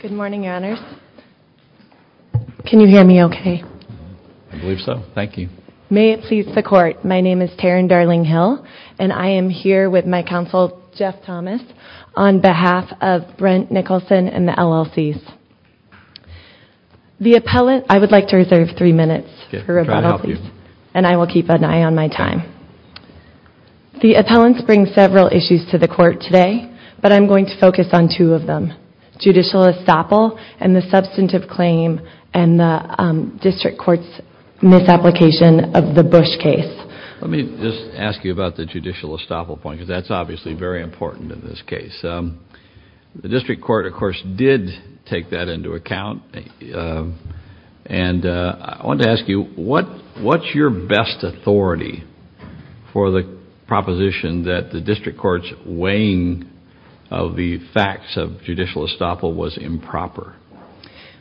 Good morning, Your Honors. Can you hear me okay? I believe so, thank you. May it please the court, my name is Taryn Darling-Hill and I am here with my counsel Jeff Thomas on behalf of Brent Nicholson and the LLCs. The appellant, I would like to reserve three minutes for rebuttal, and I will keep an eye on my time. The appellants bring several issues to the court today, but I'm going to judicial estoppel and the substantive claim and the district court's misapplication of the Bush case. Let me just ask you about the judicial estoppel point, because that's obviously very important in this case. The district court, of course, did take that into account, and I want to ask you what what's your best authority for the proposition that the district court's misapplication of the facts of judicial estoppel was improper?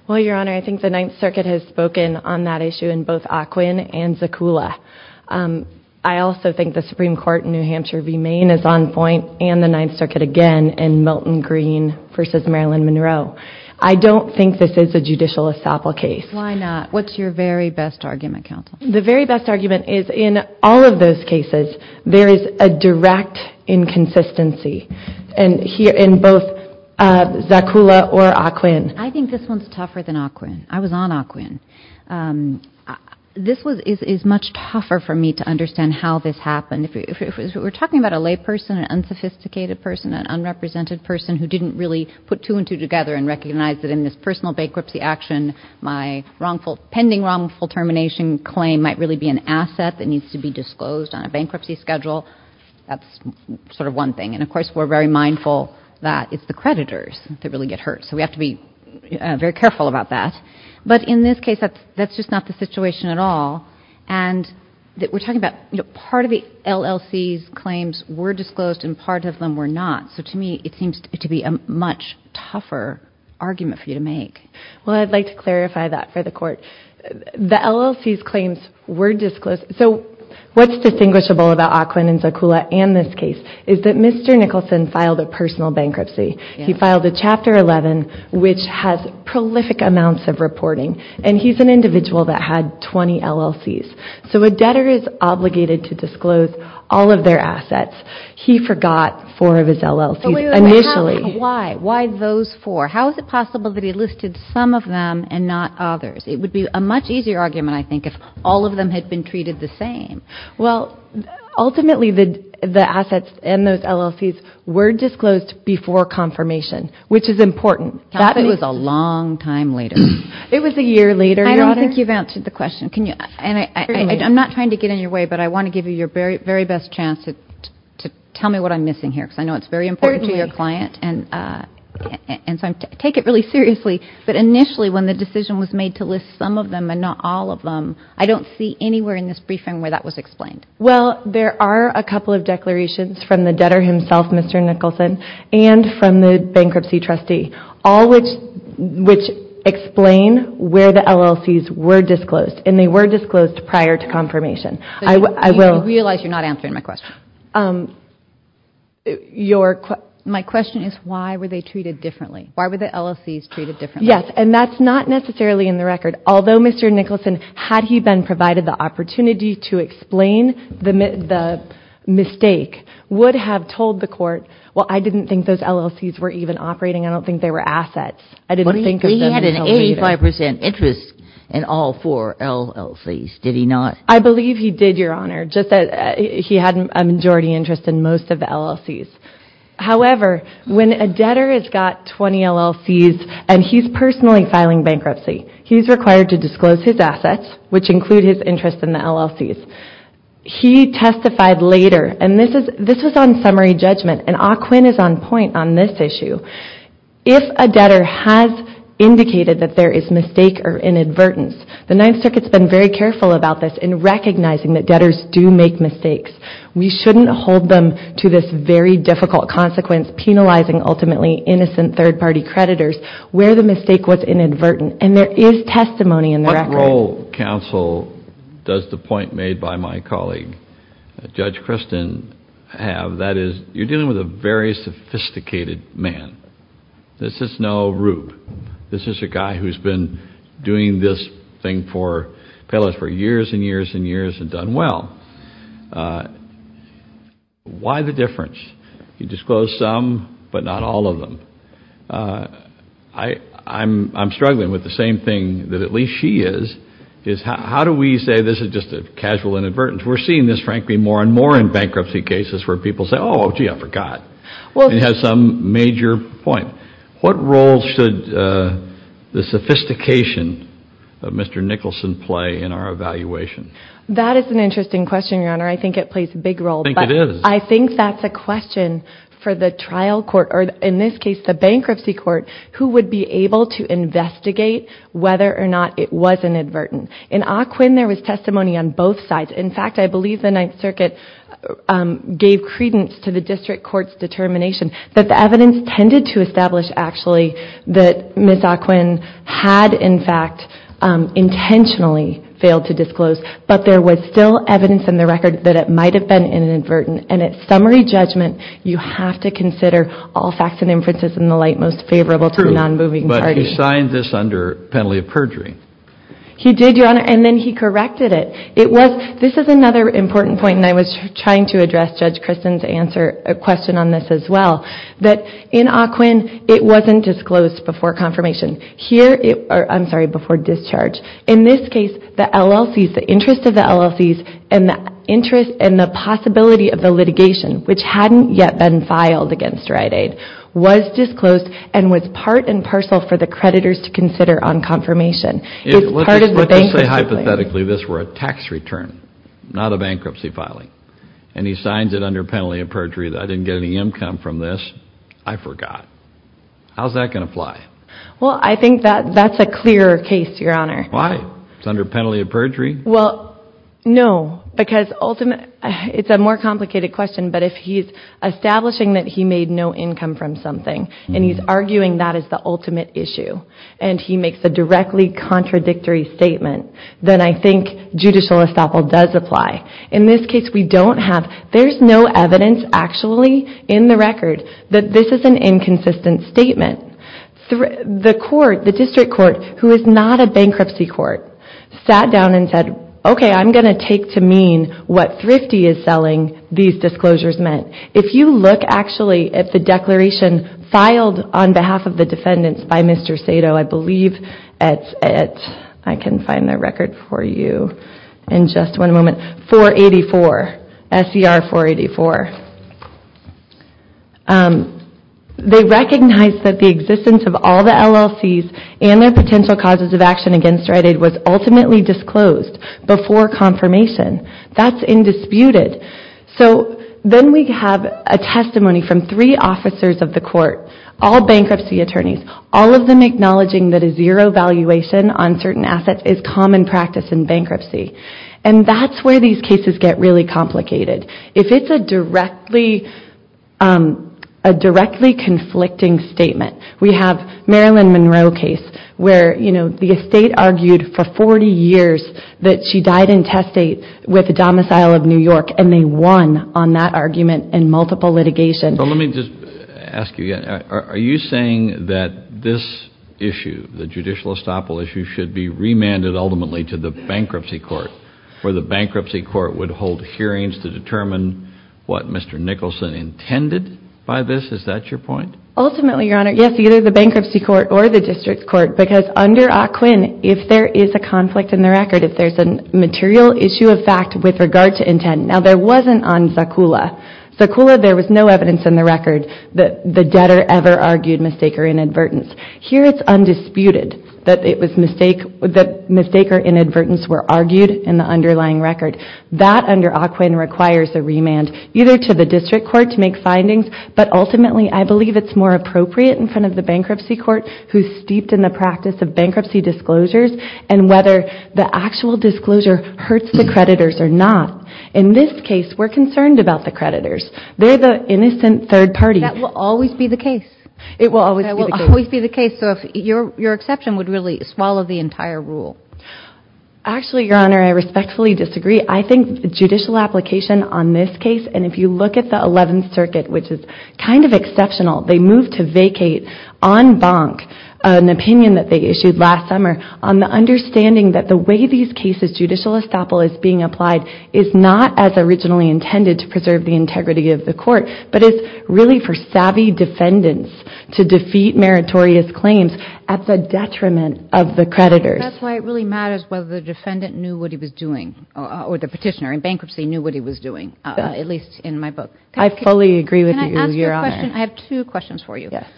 Well, Your Honor, I think the Ninth Circuit has spoken on that issue in both Ocwin and Zucoula. I also think the Supreme Court in New Hampshire v. Maine is on point, and the Ninth Circuit again in Milton Green v. Marilyn Monroe. I don't think this is a judicial estoppel case. Why not? What's your very best argument, counsel? The very best in both Zucoula or Ocwin. I think this one's tougher than Ocwin. I was on Ocwin. This is much tougher for me to understand how this happened. If we're talking about a lay person, an unsophisticated person, an unrepresented person who didn't really put two and two together and recognize that in this personal bankruptcy action, my pending wrongful termination claim might really be an asset that needs to be disclosed on a bankruptcy schedule. That's sort of one thing. And of course, we're very mindful that it's the creditors that really get hurt. So we have to be very careful about that. But in this case, that's just not the situation at all. And we're talking about part of the LLC's claims were disclosed and part of them were not. So to me, it seems to be a much tougher argument for you to make. Well, I'd like to clarify that for the Court. The LLC's claims were disclosed. So what's distinguishable about Ocwin and Zucula and this case is that Mr. Nicholson filed a personal bankruptcy. He filed a Chapter 11, which has prolific amounts of reporting. And he's an individual that had 20 LLC's. So a debtor is obligated to disclose all of their assets. He forgot four of his LLC's initially. Why? Why those four? How is it possible that he listed some of them and not others? It would be a much easier argument, I think, if all of them had been treated the same. Well, ultimately, the assets and those LLC's were disclosed before confirmation, which is important. That was a long time later. It was a year later, Your Honor. I don't think you've answered the question. I'm not trying to get in your way, but I want to give you your very best chance to tell me what I'm missing here, because I know it's very important to your client. And so I take it really seriously. But initially, when the decision was made to list some of them and not all of them, I don't see anywhere in this briefing where that was explained. Well, there are a couple of declarations from the debtor himself, Mr. Nicholson, and from the bankruptcy trustee, all which explain where the LLC's were disclosed. And they were disclosed prior to confirmation. I realize you're not answering my question. My question is, why were they treated differently? Why were the LLC's treated differently? Yes. And that's not necessarily in the record. Although Mr. Nicholson, had he been provided the opportunity to explain the mistake, would have told the court, well, I didn't think those LLC's were even operating. I don't think they were assets. I didn't think of them as held even. He had an 85 percent interest in all four LLC's, did he not? I believe he did, Your Honor. Just that he had a majority interest in most of the LLC's. However, when a debtor has got 20 LLC's, and he's personally filing bankruptcy, he's required to disclose his assets, which include his interest in the LLC's. He testified later, and this was on summary judgment, and Ah Quin is on point on this issue. If a debtor has indicated that there is mistake or inadvertence, the Ninth Circuit's been very careful about this in recognizing that debtors do make mistakes. We shouldn't hold them to this very difficult consequence, penalizing ultimately innocent third party creditors, where the mistake was testimony in the record. What role, counsel, does the point made by my colleague, Judge Christin, have? That is, you're dealing with a very sophisticated man. This is no Rube. This is a guy who's been doing this thing for payloads for years and years and years, and done well. Why the difference? He disclosed some, but not all of them. I'm struggling with the same thing that at least she is. How do we say this is just a casual inadvertence? We're seeing this, frankly, more and more in bankruptcy cases where people say, oh gee, I forgot. Well, he has some major point. What role should the sophistication of Mr. Nicholson play in our evaluation? That is an interesting question, your honor. I think it plays a big role. I think it is. I think that's a question for the trial court, or in this case, the bankruptcy court, who would be able to investigate whether or not it was inadvertent. In Ocwin, there was testimony on both sides. In fact, I believe the Ninth Circuit gave credence to the district court's determination that the evidence tended to establish, actually, that Ms. Ocwin had, in fact, intentionally failed to disclose, but there was still evidence in the record that it might have been inadvertent. At summary judgment, you have to consider all facts and inferences in the light most favorable to the non-moving target. But he signed this under penalty of perjury. He did, your honor, and then he corrected it. This is another important point, and I was trying to address Judge Christin's question on this as well, that in Ocwin, the interest and the possibility of the litigation, which hadn't yet been filed against Rite Aid, was disclosed and was part and parcel for the creditors to consider on confirmation. Let's just say, hypothetically, this were a tax return, not a bankruptcy filing, and he signs it under penalty of perjury. I didn't get any income from this. I forgot. How's that going to fly? Well, I think that that's a clearer case, your honor. Why? It's under penalty of perjury? Well, no, because it's a more complicated question, but if he's establishing that he made no income from something, and he's arguing that is the ultimate issue, and he makes a directly contradictory statement, then I think judicial estoppel does apply. In this case, we don't have, there's no evidence actually in the record that this is an inconsistent statement. The court, the district court, who is not a what Thrifty is selling, these disclosures meant. If you look actually at the declaration filed on behalf of the defendants by Mr. Sato, I believe at, I can find that record for you in just one moment, 484, SER 484. They recognized that the existence of all the LLCs and their potential causes of action against righted was ultimately disclosed before confirmation. That's indisputed. So then we have a testimony from three officers of the court, all bankruptcy attorneys, all of them acknowledging that a zero valuation on certain assets is common practice in bankruptcy. And that's where these cases get really complicated. If it's a directly, a directly conflicting statement, we have Marilyn Monroe case, where the estate argued for 40 years that she died in testate with a domicile of New York, and they won on that argument in multiple litigation. But let me just ask you, are you saying that this issue, the judicial estoppel issue should be remanded ultimately to the bankruptcy court, where the bankruptcy court would hold hearings to determine what Mr. Nicholson intended by this? Is that your point? Ultimately, Your Honor, yes, either the bankruptcy court or the district court, because under AQUIN, if there is a conflict in the record, if there's a material issue of fact with regard to intent, now there wasn't on Zaccoula. Zaccoula, there was no evidence in the record that the debtor ever argued mistake or inadvertence. Here it's undisputed that it was mistake, that mistake or inadvertence were argued in the underlying record. That under AQUIN requires a remand, either to the district court to make findings, but ultimately I believe it's more appropriate in front of the bankruptcy court who's steeped in the practice of bankruptcy disclosures and whether the actual disclosure hurts the creditors or not. In this case, we're concerned about the creditors. They're the innocent third party. That will always be the case. It will always be the case. So if your exception would really swallow the entire rule. Actually, Your Honor, I respectfully disagree. I think judicial application on this case, and if you look at the Eleventh Circuit, which is kind of exceptional, they moved to vacate en banc an opinion that they issued last summer on the understanding that the way these cases judicial estoppel is being applied is not as originally intended to preserve the integrity of the court, but it's really for savvy defendants to defeat meritorious claims at the detriment of the creditors. That's why it really matters whether the defendant knew what he was doing or the petitioner in bankruptcy knew what he was doing, at least in my book. I fully agree with you, Your Honor. Can I ask you a question? I have two questions for you. Yes.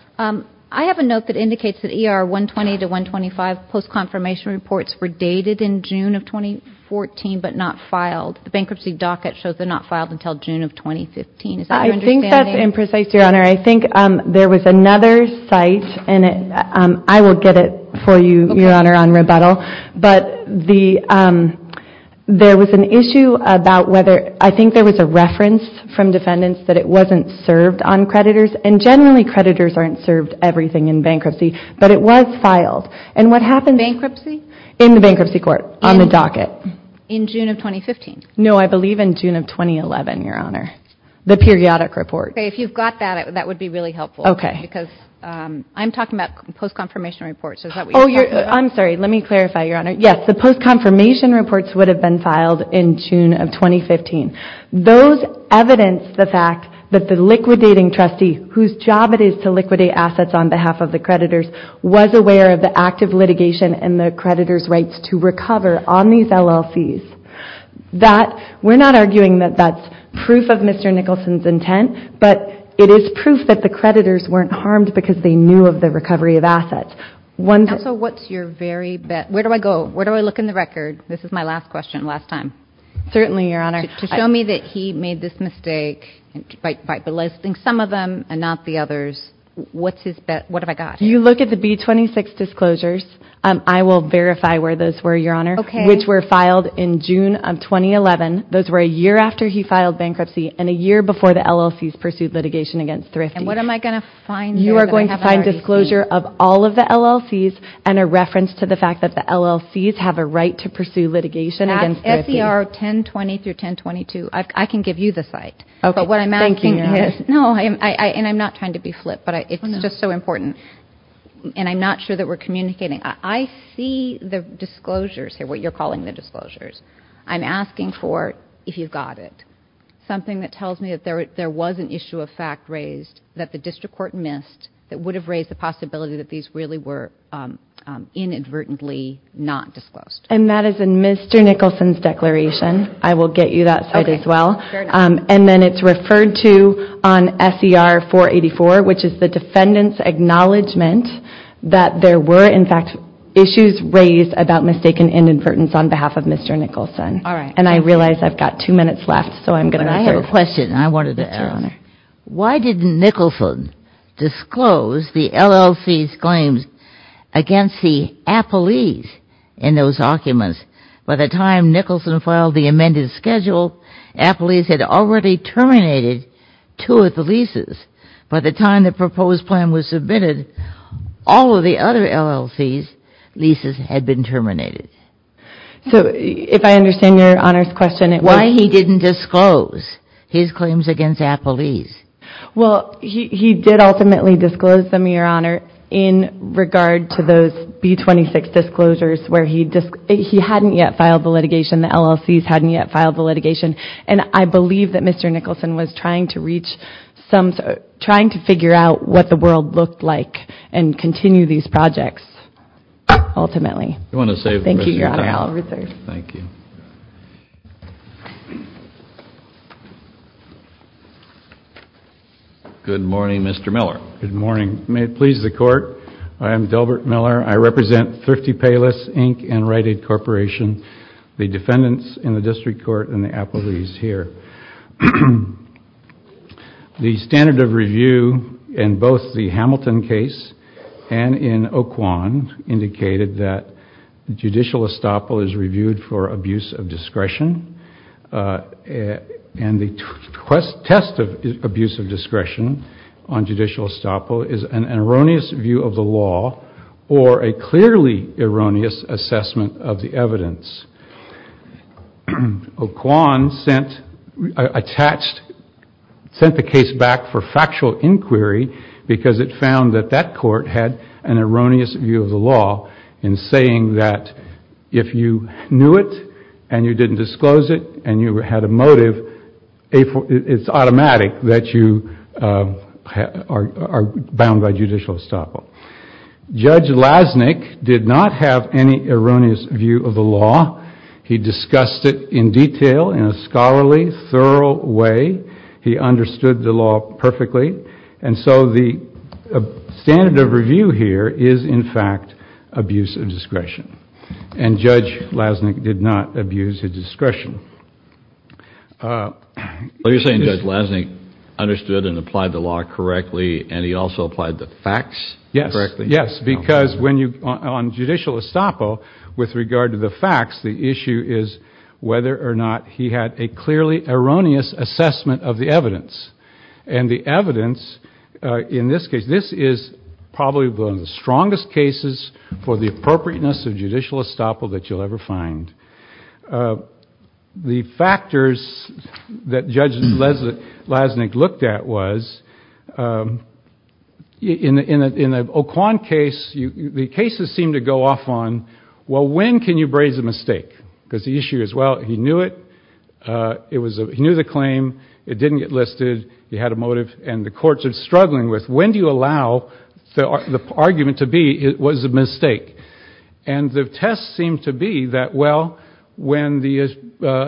I have a note that indicates that ER 120 to 125 post-confirmation reports were dated in June of 2014, but not filed. The bankruptcy docket shows they're not filed until June of 2015. I think that's imprecise, Your Honor. I think there was another site, and I will get it for you, Your Honor, on rebuttal, but there was an issue about whether, I think there was a reference from defendants that it wasn't served on creditors, and generally creditors aren't served everything in bankruptcy, but it was filed. And what happened... Bankruptcy? In the bankruptcy court, on the docket. In June of 2015? No, I believe in June of 2011, Your Honor. The periodic report. Okay, if you've got that, that would be really helpful. Okay. Because I'm talking about post-confirmation reports. Oh, I'm sorry. Let me clarify, Your Honor. Yes, the evidence, the fact that the liquidating trustee, whose job it is to liquidate assets on behalf of the creditors, was aware of the active litigation and the creditors' rights to recover on these LLCs, that we're not arguing that that's proof of Mr. Nicholson's intent, but it is proof that the creditors weren't harmed because they knew of the recovery of assets. So what's your very best... Where do I go? Where do I look in the record? This is my last question, last time. Certainly, Your Honor. To show me that he made this mistake by belittling some of them and not the others, what's his best... What have I got? You look at the B-26 disclosures. I will verify where those were, Your Honor. Okay. Which were filed in June of 2011. Those were a year after he filed bankruptcy and a year before the LLCs pursued litigation against Thrifty. And what am I going to find there that I haven't already seen? You are going to find disclosure of all of the LLCs and a reference to the fact that the LLCs have a right to pursue litigation against Thrifty. SCR 1020-1022, I can give you the site. Okay. Thank you, Your Honor. No, and I'm not trying to be flip, but it's just so important. And I'm not sure that we're communicating. I see the disclosures here, what you're calling the disclosures. I'm asking for, if you've got it, something that tells me that there was an issue of fact raised that the district court missed that would have raised the possibility that these really were inadvertently not disclosed. And that is Mr. Nicholson's declaration. I will get you that site as well. And then it's referred to on SCR 484, which is the defendant's acknowledgement that there were, in fact, issues raised about mistaken inadvertence on behalf of Mr. Nicholson. All right. And I realize I've got two minutes left, so I'm going to answer. I have a question I wanted to ask. Why didn't Nicholson disclose the LLCs claims against the appellees in those documents? By the time Nicholson filed the amended schedule, appellees had already terminated two of the leases. By the time the proposed plan was submitted, all of the other LLCs leases had been terminated. So if I understand Your Honor's question, it was... Why he didn't disclose his claims against appellees? Well, he did ultimately disclose them, Your Honor, in regard to those B-26 disclosures where he hadn't yet filed the litigation. The LLCs hadn't yet filed the litigation. And I believe that Mr. Nicholson was trying to reach some... trying to figure out what the world looked like and continue these projects, ultimately. Thank you, Your Honor. I'll reserve. Thank you. Good morning, Mr. Miller. Good morning. May it please the Court, I am Delbert Miller. I represent Thrifty Payless, Inc. and Rite Aid Corporation, the defendants in the District Court and the appellees here. The standard of review in both the Hamilton case and in Oquan indicated that the judicial estoppel is reviewed for abuse of discretion and the test of abuse of discretion on judicial estoppel is an erroneous view of the law or a clearly erroneous assessment of the evidence. Oquan sent attached... sent the case back for factual inquiry because it found that that court had an erroneous view of the law in saying that if you knew it and you didn't disclose it and you had a motive, it's automatic that you are bound by judicial estoppel. Judge Lasnik did not have any erroneous view of the law. He discussed it in detail in a scholarly, thorough way. He understood the law perfectly. And so the standard of review here is, in fact, abuse of discretion. What you're saying is Judge Lasnik understood and applied the law correctly and he also applied the facts correctly? Yes, yes, because when you... on judicial estoppel, with regard to the facts, the issue is whether or not he had a clearly erroneous assessment of the evidence. And the evidence in this case, this is probably one of the strongest cases for the appropriateness of the stand. The factors that Judge Lasnik looked at was, in the Oquan case, the cases seem to go off on, well, when can you braze a mistake? Because the issue is, well, he knew it, it was... he knew the claim, it didn't get listed, he had a motive, and the courts are struggling with when do you allow the argument to be it was a when the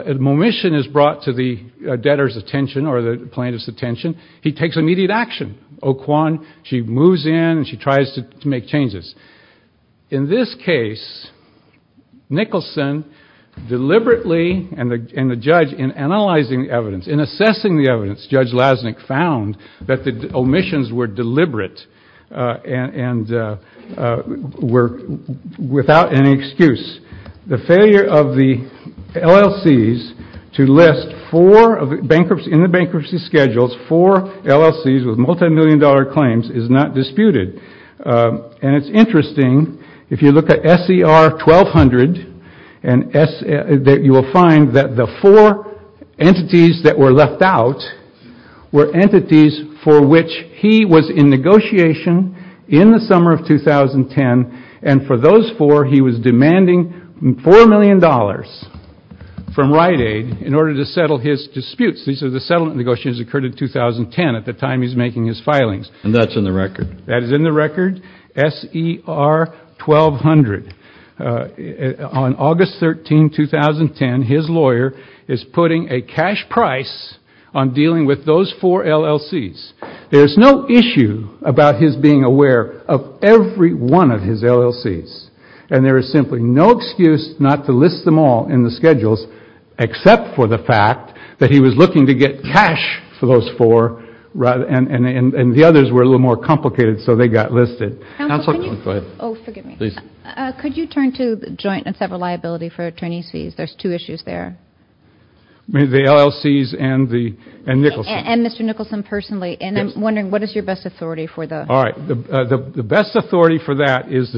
omission is brought to the debtor's attention or the plaintiff's attention, he takes immediate action. Oquan, she moves in and she tries to make changes. In this case, Nicholson deliberately, and the judge, in analyzing evidence, in assessing the evidence, Judge Lasnik found that the omissions were of the LLCs to list four, in the bankruptcy schedules, four LLCs with multi-million dollar claims is not disputed. And it's interesting, if you look at SER 1200, that you will find that the four entities that were left out were entities for which he was in negotiation in the summer of 2010, and for those four, he was demanding four million dollars from Rite Aid in order to settle his disputes. These are the settlement negotiations that occurred in 2010, at the time he's making his filings. And that's in the record? That is in the record. SER 1200. On August 13, 2010, his lawyer is putting a cash price on dealing with those four LLCs. There's no issue about his being aware of every one of his LLCs. And there is simply no excuse not to list them all in the schedules, except for the fact that he was looking to get cash for those four, and the others were a little more complicated, so they got listed. Could you turn to joint and separate liability for attorney's fees? There's two issues there. The LLCs and Nicholson. And Mr. Nicholson, personally, and I'm wondering what is your best authority for that? All right, the best authority for that is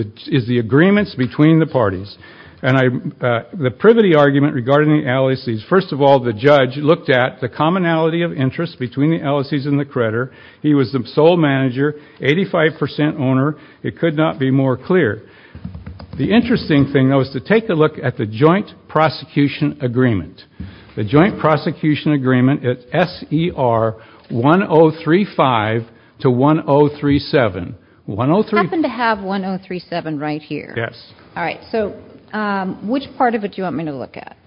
the agreements between the parties. And the privity argument regarding the LLCs, first of all, the judge looked at the commonality of interest between the LLCs and the creditor. He was the sole manager, 85% owner. It could not be more clear. The interesting thing, though, is to take a look at the joint prosecution agreement. The joint prosecution agreement at SER 1035 to 1037. We happen to have 1037 right here. Yes. All right, so which part of it do you want me to look at?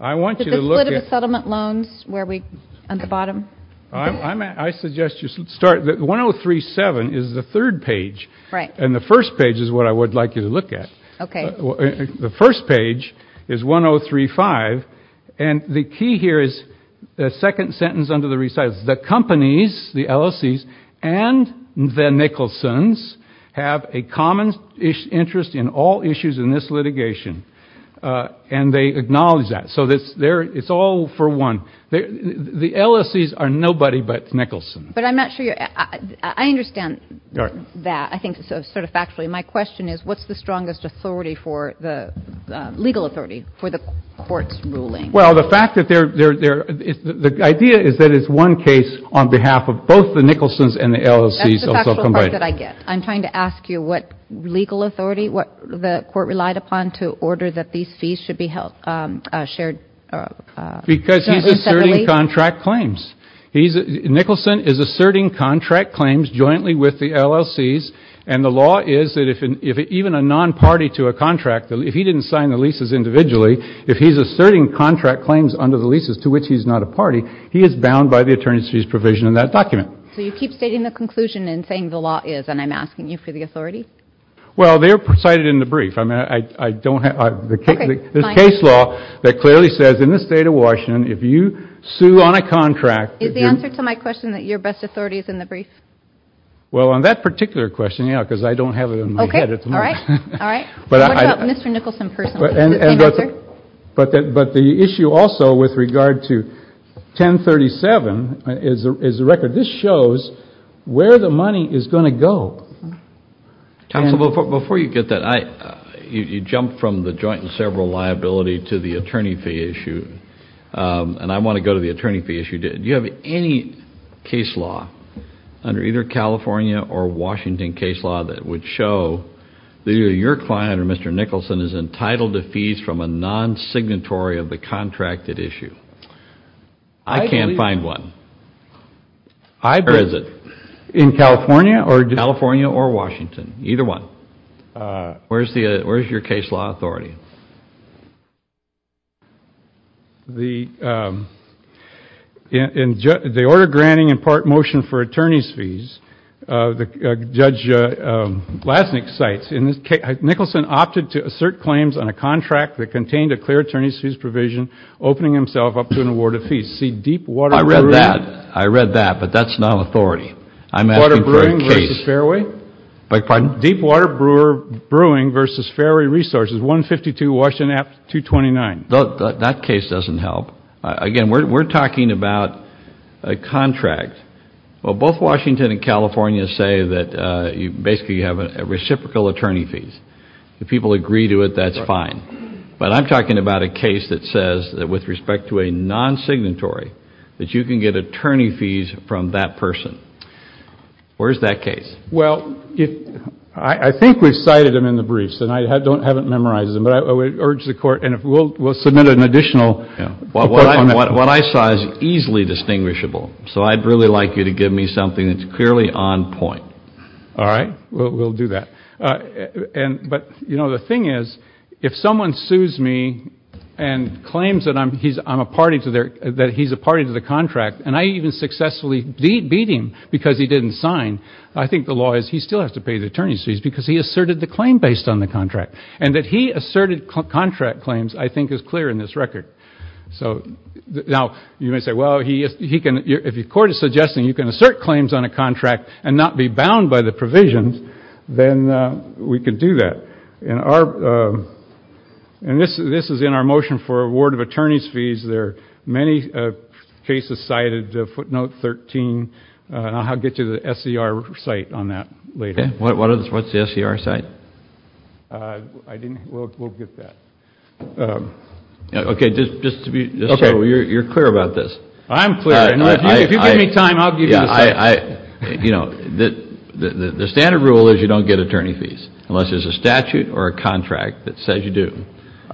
I want you to look at... The split of the settlement loans, where we... at the bottom? I suggest you start... 1037 is the third page. Right. And the first page is what I would like you to look at. Okay. The first page is 1035, and the key here is the second sentence under the recitals. The companies, the LLCs, and the Nicholson's have a common interest in all issues in this litigation. And they acknowledge that. So it's all for one. The LLCs are nobody but Nicholson. But I'm not sure you... I understand that, I think, sort of factually. My question is, what's the strongest authority for the legal authority, for the court's ruling? Well, the fact that they're... the idea is that it's one case on behalf of both the Nicholson's and the LLCs. That's the factual part that I get. I'm trying to ask you what legal authority, what the court relied upon to order that these fees should be held shared. Because he's asserting contract claims. Nicholson is asserting contract claims jointly with the LLCs, and the law is that even a non-party to a contract, if he didn't sign the leases individually, if he's asserting contract claims under the leases to which he's not a party, he is bound by the attorney's fees provision in that document. So you keep stating the conclusion and saying the law is, and I'm asking you for the authority? Well, they are cited in the brief. I mean, I don't have... there's case law that clearly says in the state of Washington, if you sue on a contract... Is the answer to my question that your best authority is in the brief? Well, on that particular question, yeah, because I don't have it in my head at the moment. Okay, all right. But what about Mr. Nicholson personally? But the issue also with regard to 1037 is the record. This shows where the money is going to go. Before you get that, you jumped from the joint and several liability to the attorney fee issue. And I want to go to the attorney fee issue. Do you have any case law under either California or Washington that would show that either your client or Mr. Nicholson is entitled to fees from a non-signatory of the contracted issue? I can't find one. I believe... Where is it? In California or... California or Washington, either one. Where's your case law authority? The order granting in part motion for attorney's fees, Judge Glasnick cites, Nicholson opted to assert claims on a contract that contained a clear attorney's fees provision, opening himself up to an award of fees. See, deep water... I read that. I read that, but that's not an authority. I'm asking for a case. Water brewing versus fairway? That case doesn't help. Again, we're talking about a contract. Well, both Washington and California say that you basically have a reciprocal attorney fees. If people agree to it, that's fine. But I'm talking about a case that says that with respect to a non-signatory, that you can get attorney fees from that person. Where's that case? Well, I think we've cited him in the briefs, and I haven't memorized them, but I would urge the Court, and we'll submit an additional... What I saw is easily distinguishable, so I'd really like you to give me something that's clearly on point. All right? We'll do that. But the thing is, if someone sues me and claims that he's a party to the contract, and I even successfully beat him because he didn't sign, I think the law is he still has to pay the attorney's fees because he asserted the claim based on the contract. And that he asserted contract claims, I think, is clear in this record. Now, you may say, well, if the Court is suggesting you can assert claims on a contract and not be bound by the provisions, then we could do that. And this is in our motion for award of attorney's fees. There are many cases cited, footnote 13, and I'll get you the SCR site on that later. Okay. What's the SCR site? I didn't... We'll get that. Okay, just so you're clear about this. I'm clear. If you give me time, I'll give you the site. You know, the standard rule is you don't get attorney's fees, unless there's a statute or a contract that says you do.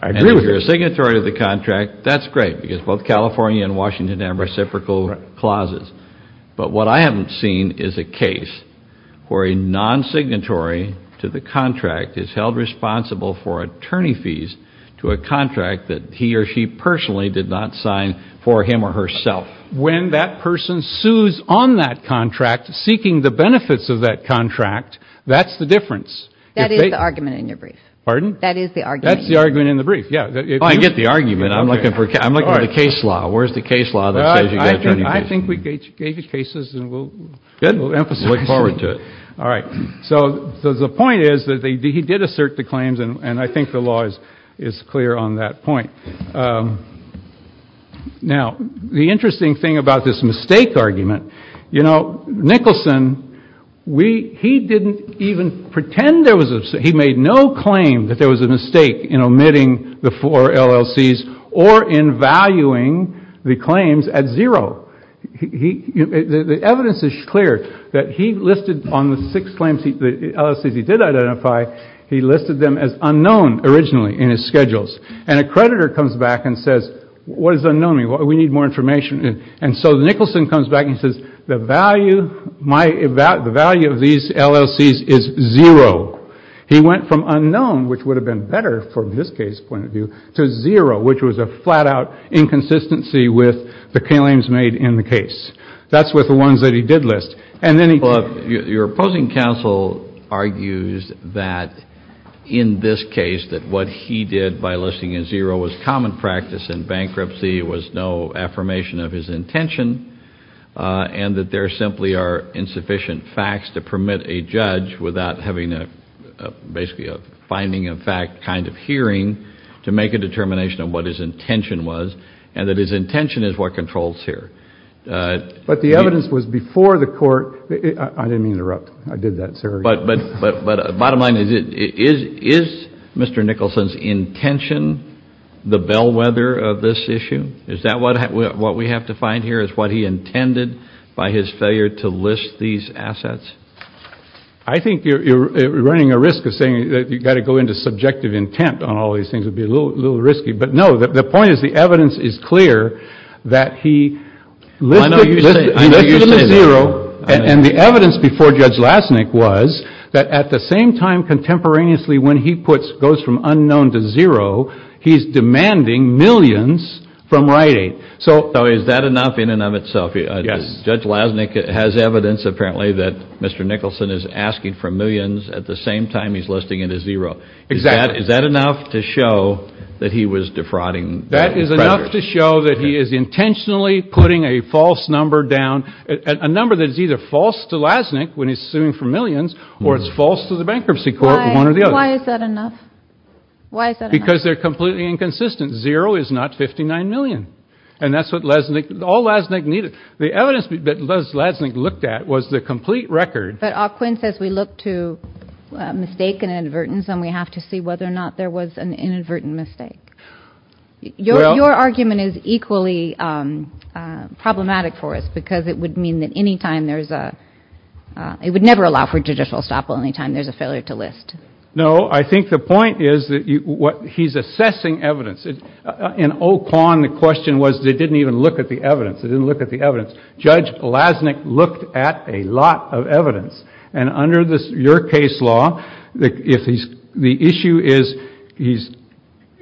I agree with that. If you're a signatory to the contract, that's great, because both California and Washington have reciprocal clauses. But what I haven't seen is a case where a non-signatory to the contract is held responsible for attorney fees to a contract that he or she personally did not sign for him or herself. When that person sues on that contract, seeking the benefits of that contract, that's the difference. That is the argument in your brief. Pardon? I get the argument. I'm looking for the case law. Where's the case law that says you get attorney fees? I think we gave you cases, and we'll emphasize them. Good. I'll look forward to it. All right. So the point is that he did assert the claims, and I think the law is clear on that point. Now, the interesting thing about this mistake argument, you know, Nicholson, he didn't even pretend there was a mistake. He made no claim that there was a mistake in omitting the four LLCs or in valuing the claims at zero. The evidence is clear that he listed on the six LLCs he did identify, he listed them as unknown originally in his schedules. And a creditor comes back and says, what is unknown? We need more information. And so Nicholson comes back and says, the value of these LLCs is zero. He went from unknown, which would have been better from this case point of view, to zero, which was a flat-out inconsistency with the claims made in the case. That's with the ones that he did list. Your opposing counsel argues that in this case, that what he did by listing a zero was common practice in bankruptcy, it was no affirmation of his intention, and that there simply are insufficient facts to permit a judge, without having basically a finding of fact kind of hearing, to make a determination of what his intention was, and that his intention is what controls here. But the evidence was before the court. I didn't mean to interrupt. I did that, sir. But bottom line is, is Mr. Nicholson's intention the bellwether of this issue? Is that what we have to find here, is what he intended by his failure to list these assets? I think you're running a risk of saying that you've got to go into subjective intent on all these things. It would be a little risky. But no, the point is, the evidence is clear that he listed them at zero, and the evidence before Judge Lasnik was that at the same time, contemporaneously, when he goes from unknown to zero, he's demanding millions from Rite Aid. So is that enough in and of itself? Yes. Judge Lasnik has evidence, apparently, that Mr. Nicholson is asking for millions at the same time he's listing it at zero. Exactly. Is that enough to show that he was defrauding? That is enough to show that he is intentionally putting a false number down, a number that is either false to Lasnik when he's suing for millions, or it's false to the bankruptcy court, one or the other. Why is that enough? Because they're completely inconsistent. Zero is not 59 million. And that's what Lasnik, all Lasnik needed. The evidence that Lasnik looked at was the complete record. But O'Quinn says we look to mistake and inadvertence, and we have to see whether or not there was an inadvertent mistake. Your argument is equally problematic for us because it would mean that any time there's a, it would never allow for judicial estoppel any time there's a failure to list. No, I think the point is that he's assessing evidence. In O'Quinn, the question was they didn't even look at the evidence. They didn't look at the evidence. Judge Lasnik looked at a lot of evidence. And under your case law, the issue is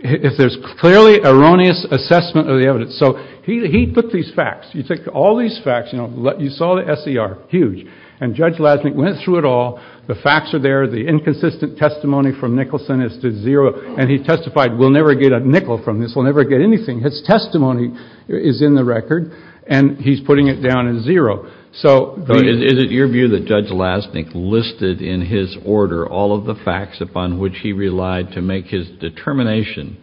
if there's clearly erroneous assessment of the evidence. So he took these facts. He took all these facts. You saw the SER, huge. And Judge Lasnik went through it all. The facts are there. The inconsistent testimony from Nicholson is to zero. And he testified we'll never get a nickel from this. We'll never get anything. His testimony is in the record. And he's putting it down at zero. Is it your view that Judge Lasnik listed in his order all of the facts upon which he relied to make his determination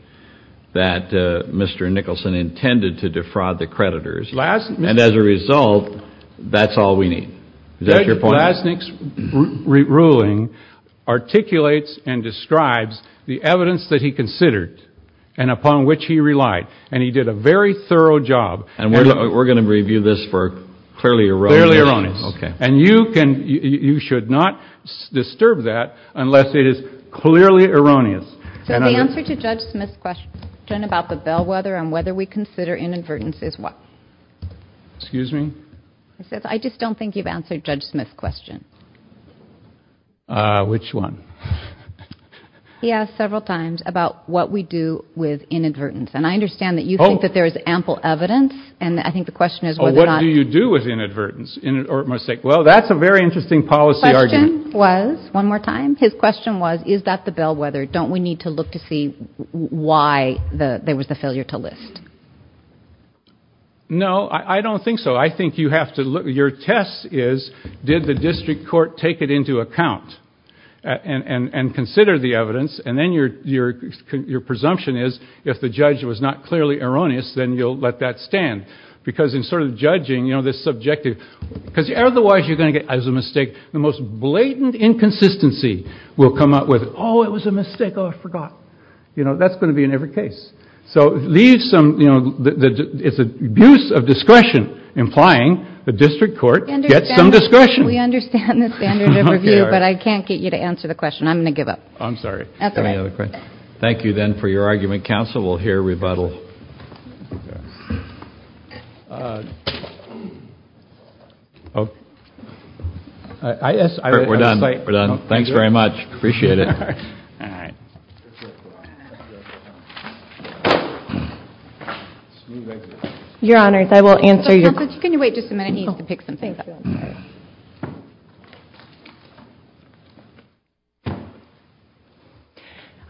that Mr. Nicholson intended to defraud the creditors? And as a result, that's all we need. Judge Lasnik's ruling articulates and describes the evidence that he considered and upon which he relied. And he did a very thorough job. And we're going to review this for clearly erroneous. Clearly erroneous. Okay. And you should not disturb that unless it is clearly erroneous. So the answer to Judge Smith's question about the bellwether and whether we consider inadvertence is what? Excuse me? I just don't think you've answered Judge Smith's question. Which one? He asked several times about what we do with inadvertence. And I understand that you think that there is ample evidence. And I think the question is whether or not. What do you do with inadvertence? Well, that's a very interesting policy argument. The question was, one more time, his question was, is that the bellwether? Don't we need to look to see why there was the failure to list? No, I don't think so. I think you have to look. Your test is did the district court take it into account and consider the evidence? And then your presumption is if the judge was not clearly erroneous, then you'll let that stand. Because in sort of judging, you know, this subjective. Because otherwise you're going to get, as a mistake, the most blatant inconsistency will come up with, oh, it was a mistake. Oh, I forgot. You know, that's going to be in every case. So leave some, you know, it's an abuse of discretion, implying the district court gets some discretion. We understand the standard of review, but I can't get you to answer the question. I'm going to give up. I'm sorry. Any other questions? Thank you, then, for your argument, counsel. We'll hear rebuttal. We're done. We're done. Thanks very much. Appreciate it. All right. Your Honors, I will answer your questions. Judge, can you wait just a minute? He needs to pick something up. Thank you.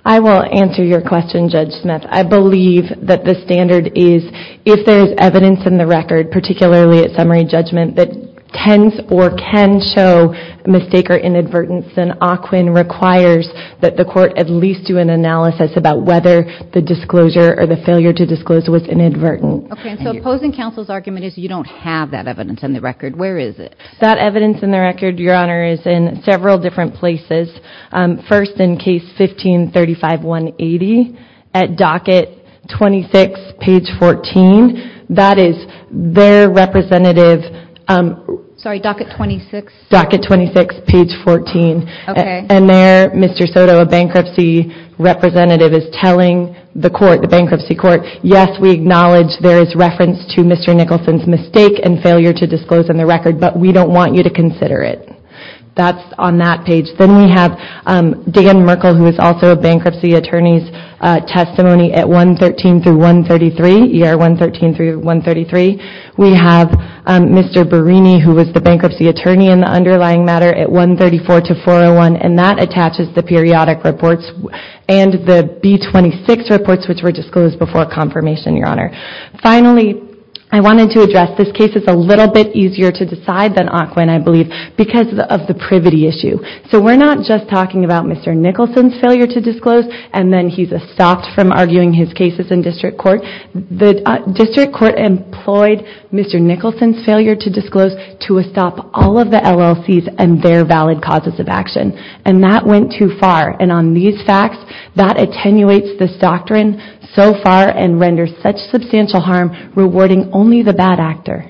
I will answer your question, Judge Smith. I believe that the standard is if there is evidence in the record, particularly at summary judgment, that tends or can show mistake or inadvertence, then OQIN requires that the court at least do an analysis about whether the disclosure or the failure to disclose was inadvertent. Okay. So opposing counsel's argument is you don't have that evidence in the record. Where is it? That evidence in the record, Your Honor, is in several different places. First, in case 1535180 at docket 26, page 14. That is their representative. Sorry, docket 26? Docket 26, page 14. Okay. And there, Mr. Soto, a bankruptcy representative, is telling the court, the bankruptcy court, yes, we acknowledge there is reference to Mr. Nicholson's mistake and failure to disclose in the record, but we don't want you to consider it. That's on that page. Then we have Dan Merkle, who is also a bankruptcy attorney's testimony at 113-133, ER 113-133. We have Mr. Berrini, who was the bankruptcy attorney in the underlying matter at 134-401, and that attaches the periodic reports and the B-26 reports, which were disclosed before confirmation, Your Honor. Finally, I wanted to address this case is a little bit easier to decide than Ocwen, I believe, because of the privity issue. So we're not just talking about Mr. Nicholson's failure to disclose and then he's stopped from arguing his cases in district court. The district court employed Mr. Nicholson's failure to disclose to stop all of the LLCs and their valid causes of action, and that went too far, and on these facts, that attenuates this doctrine so far and renders such substantial harm, rewarding only the bad actor.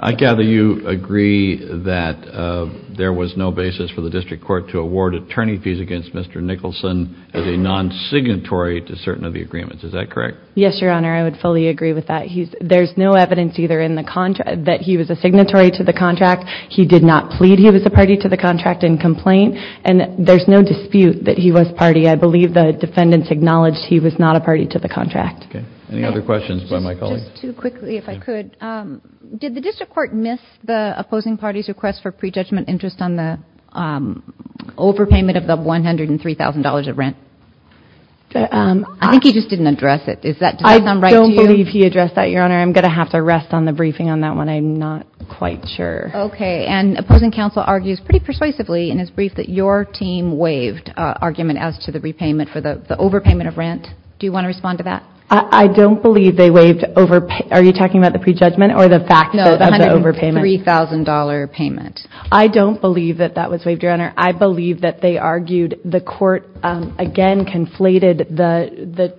I gather you agree that there was no basis for the district court to award attorney fees against Mr. Nicholson as a non-signatory to certain of the agreements. Is that correct? Yes, Your Honor, I would fully agree with that. There's no evidence either that he was a signatory to the contract. He did not plead he was a party to the contract in complaint, and there's no dispute that he was party. I believe the defendants acknowledged he was not a party to the contract. Any other questions by my colleagues? Just too quickly, if I could. Did the district court miss the opposing party's request for prejudgment interest on the overpayment of the $103,000 of rent? I think he just didn't address it. Does that sound right to you? I don't believe he addressed that, Your Honor. I'm going to have to rest on the briefing on that one. I'm not quite sure. Okay, and opposing counsel argues pretty persuasively in his brief that your team waived argument as to the repayment for the overpayment of rent. Do you want to respond to that? I don't believe they waived overpayment. Are you talking about the prejudgment or the fact of the overpayment? No, the $103,000 payment. I don't believe that that was waived, Your Honor. I believe that they argued the court, again, conflated the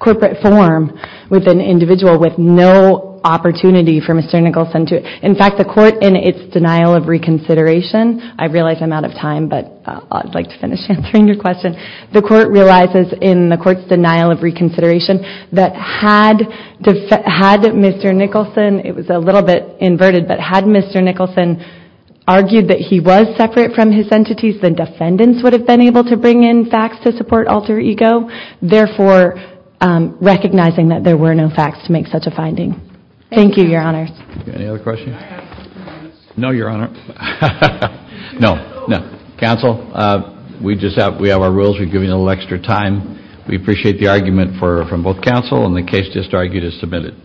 corporate form with an individual with no opportunity for Mr. Nicholson to. In fact, the court in its denial of reconsideration, I realize I'm out of time, but I'd like to finish answering your question. The court realizes in the court's denial of reconsideration that had Mr. Nicholson, it was a little bit inverted, but had Mr. Nicholson argued that he was separate from his entities, the defendants would have been able to bring in facts to support alter ego, therefore recognizing that there were no facts to make such a finding. Thank you, Your Honor. Any other questions? No, Your Honor. No, no. Counsel, we have our rules. We're giving you a little extra time. We appreciate the argument from both counsel, and the case just argued is submitted.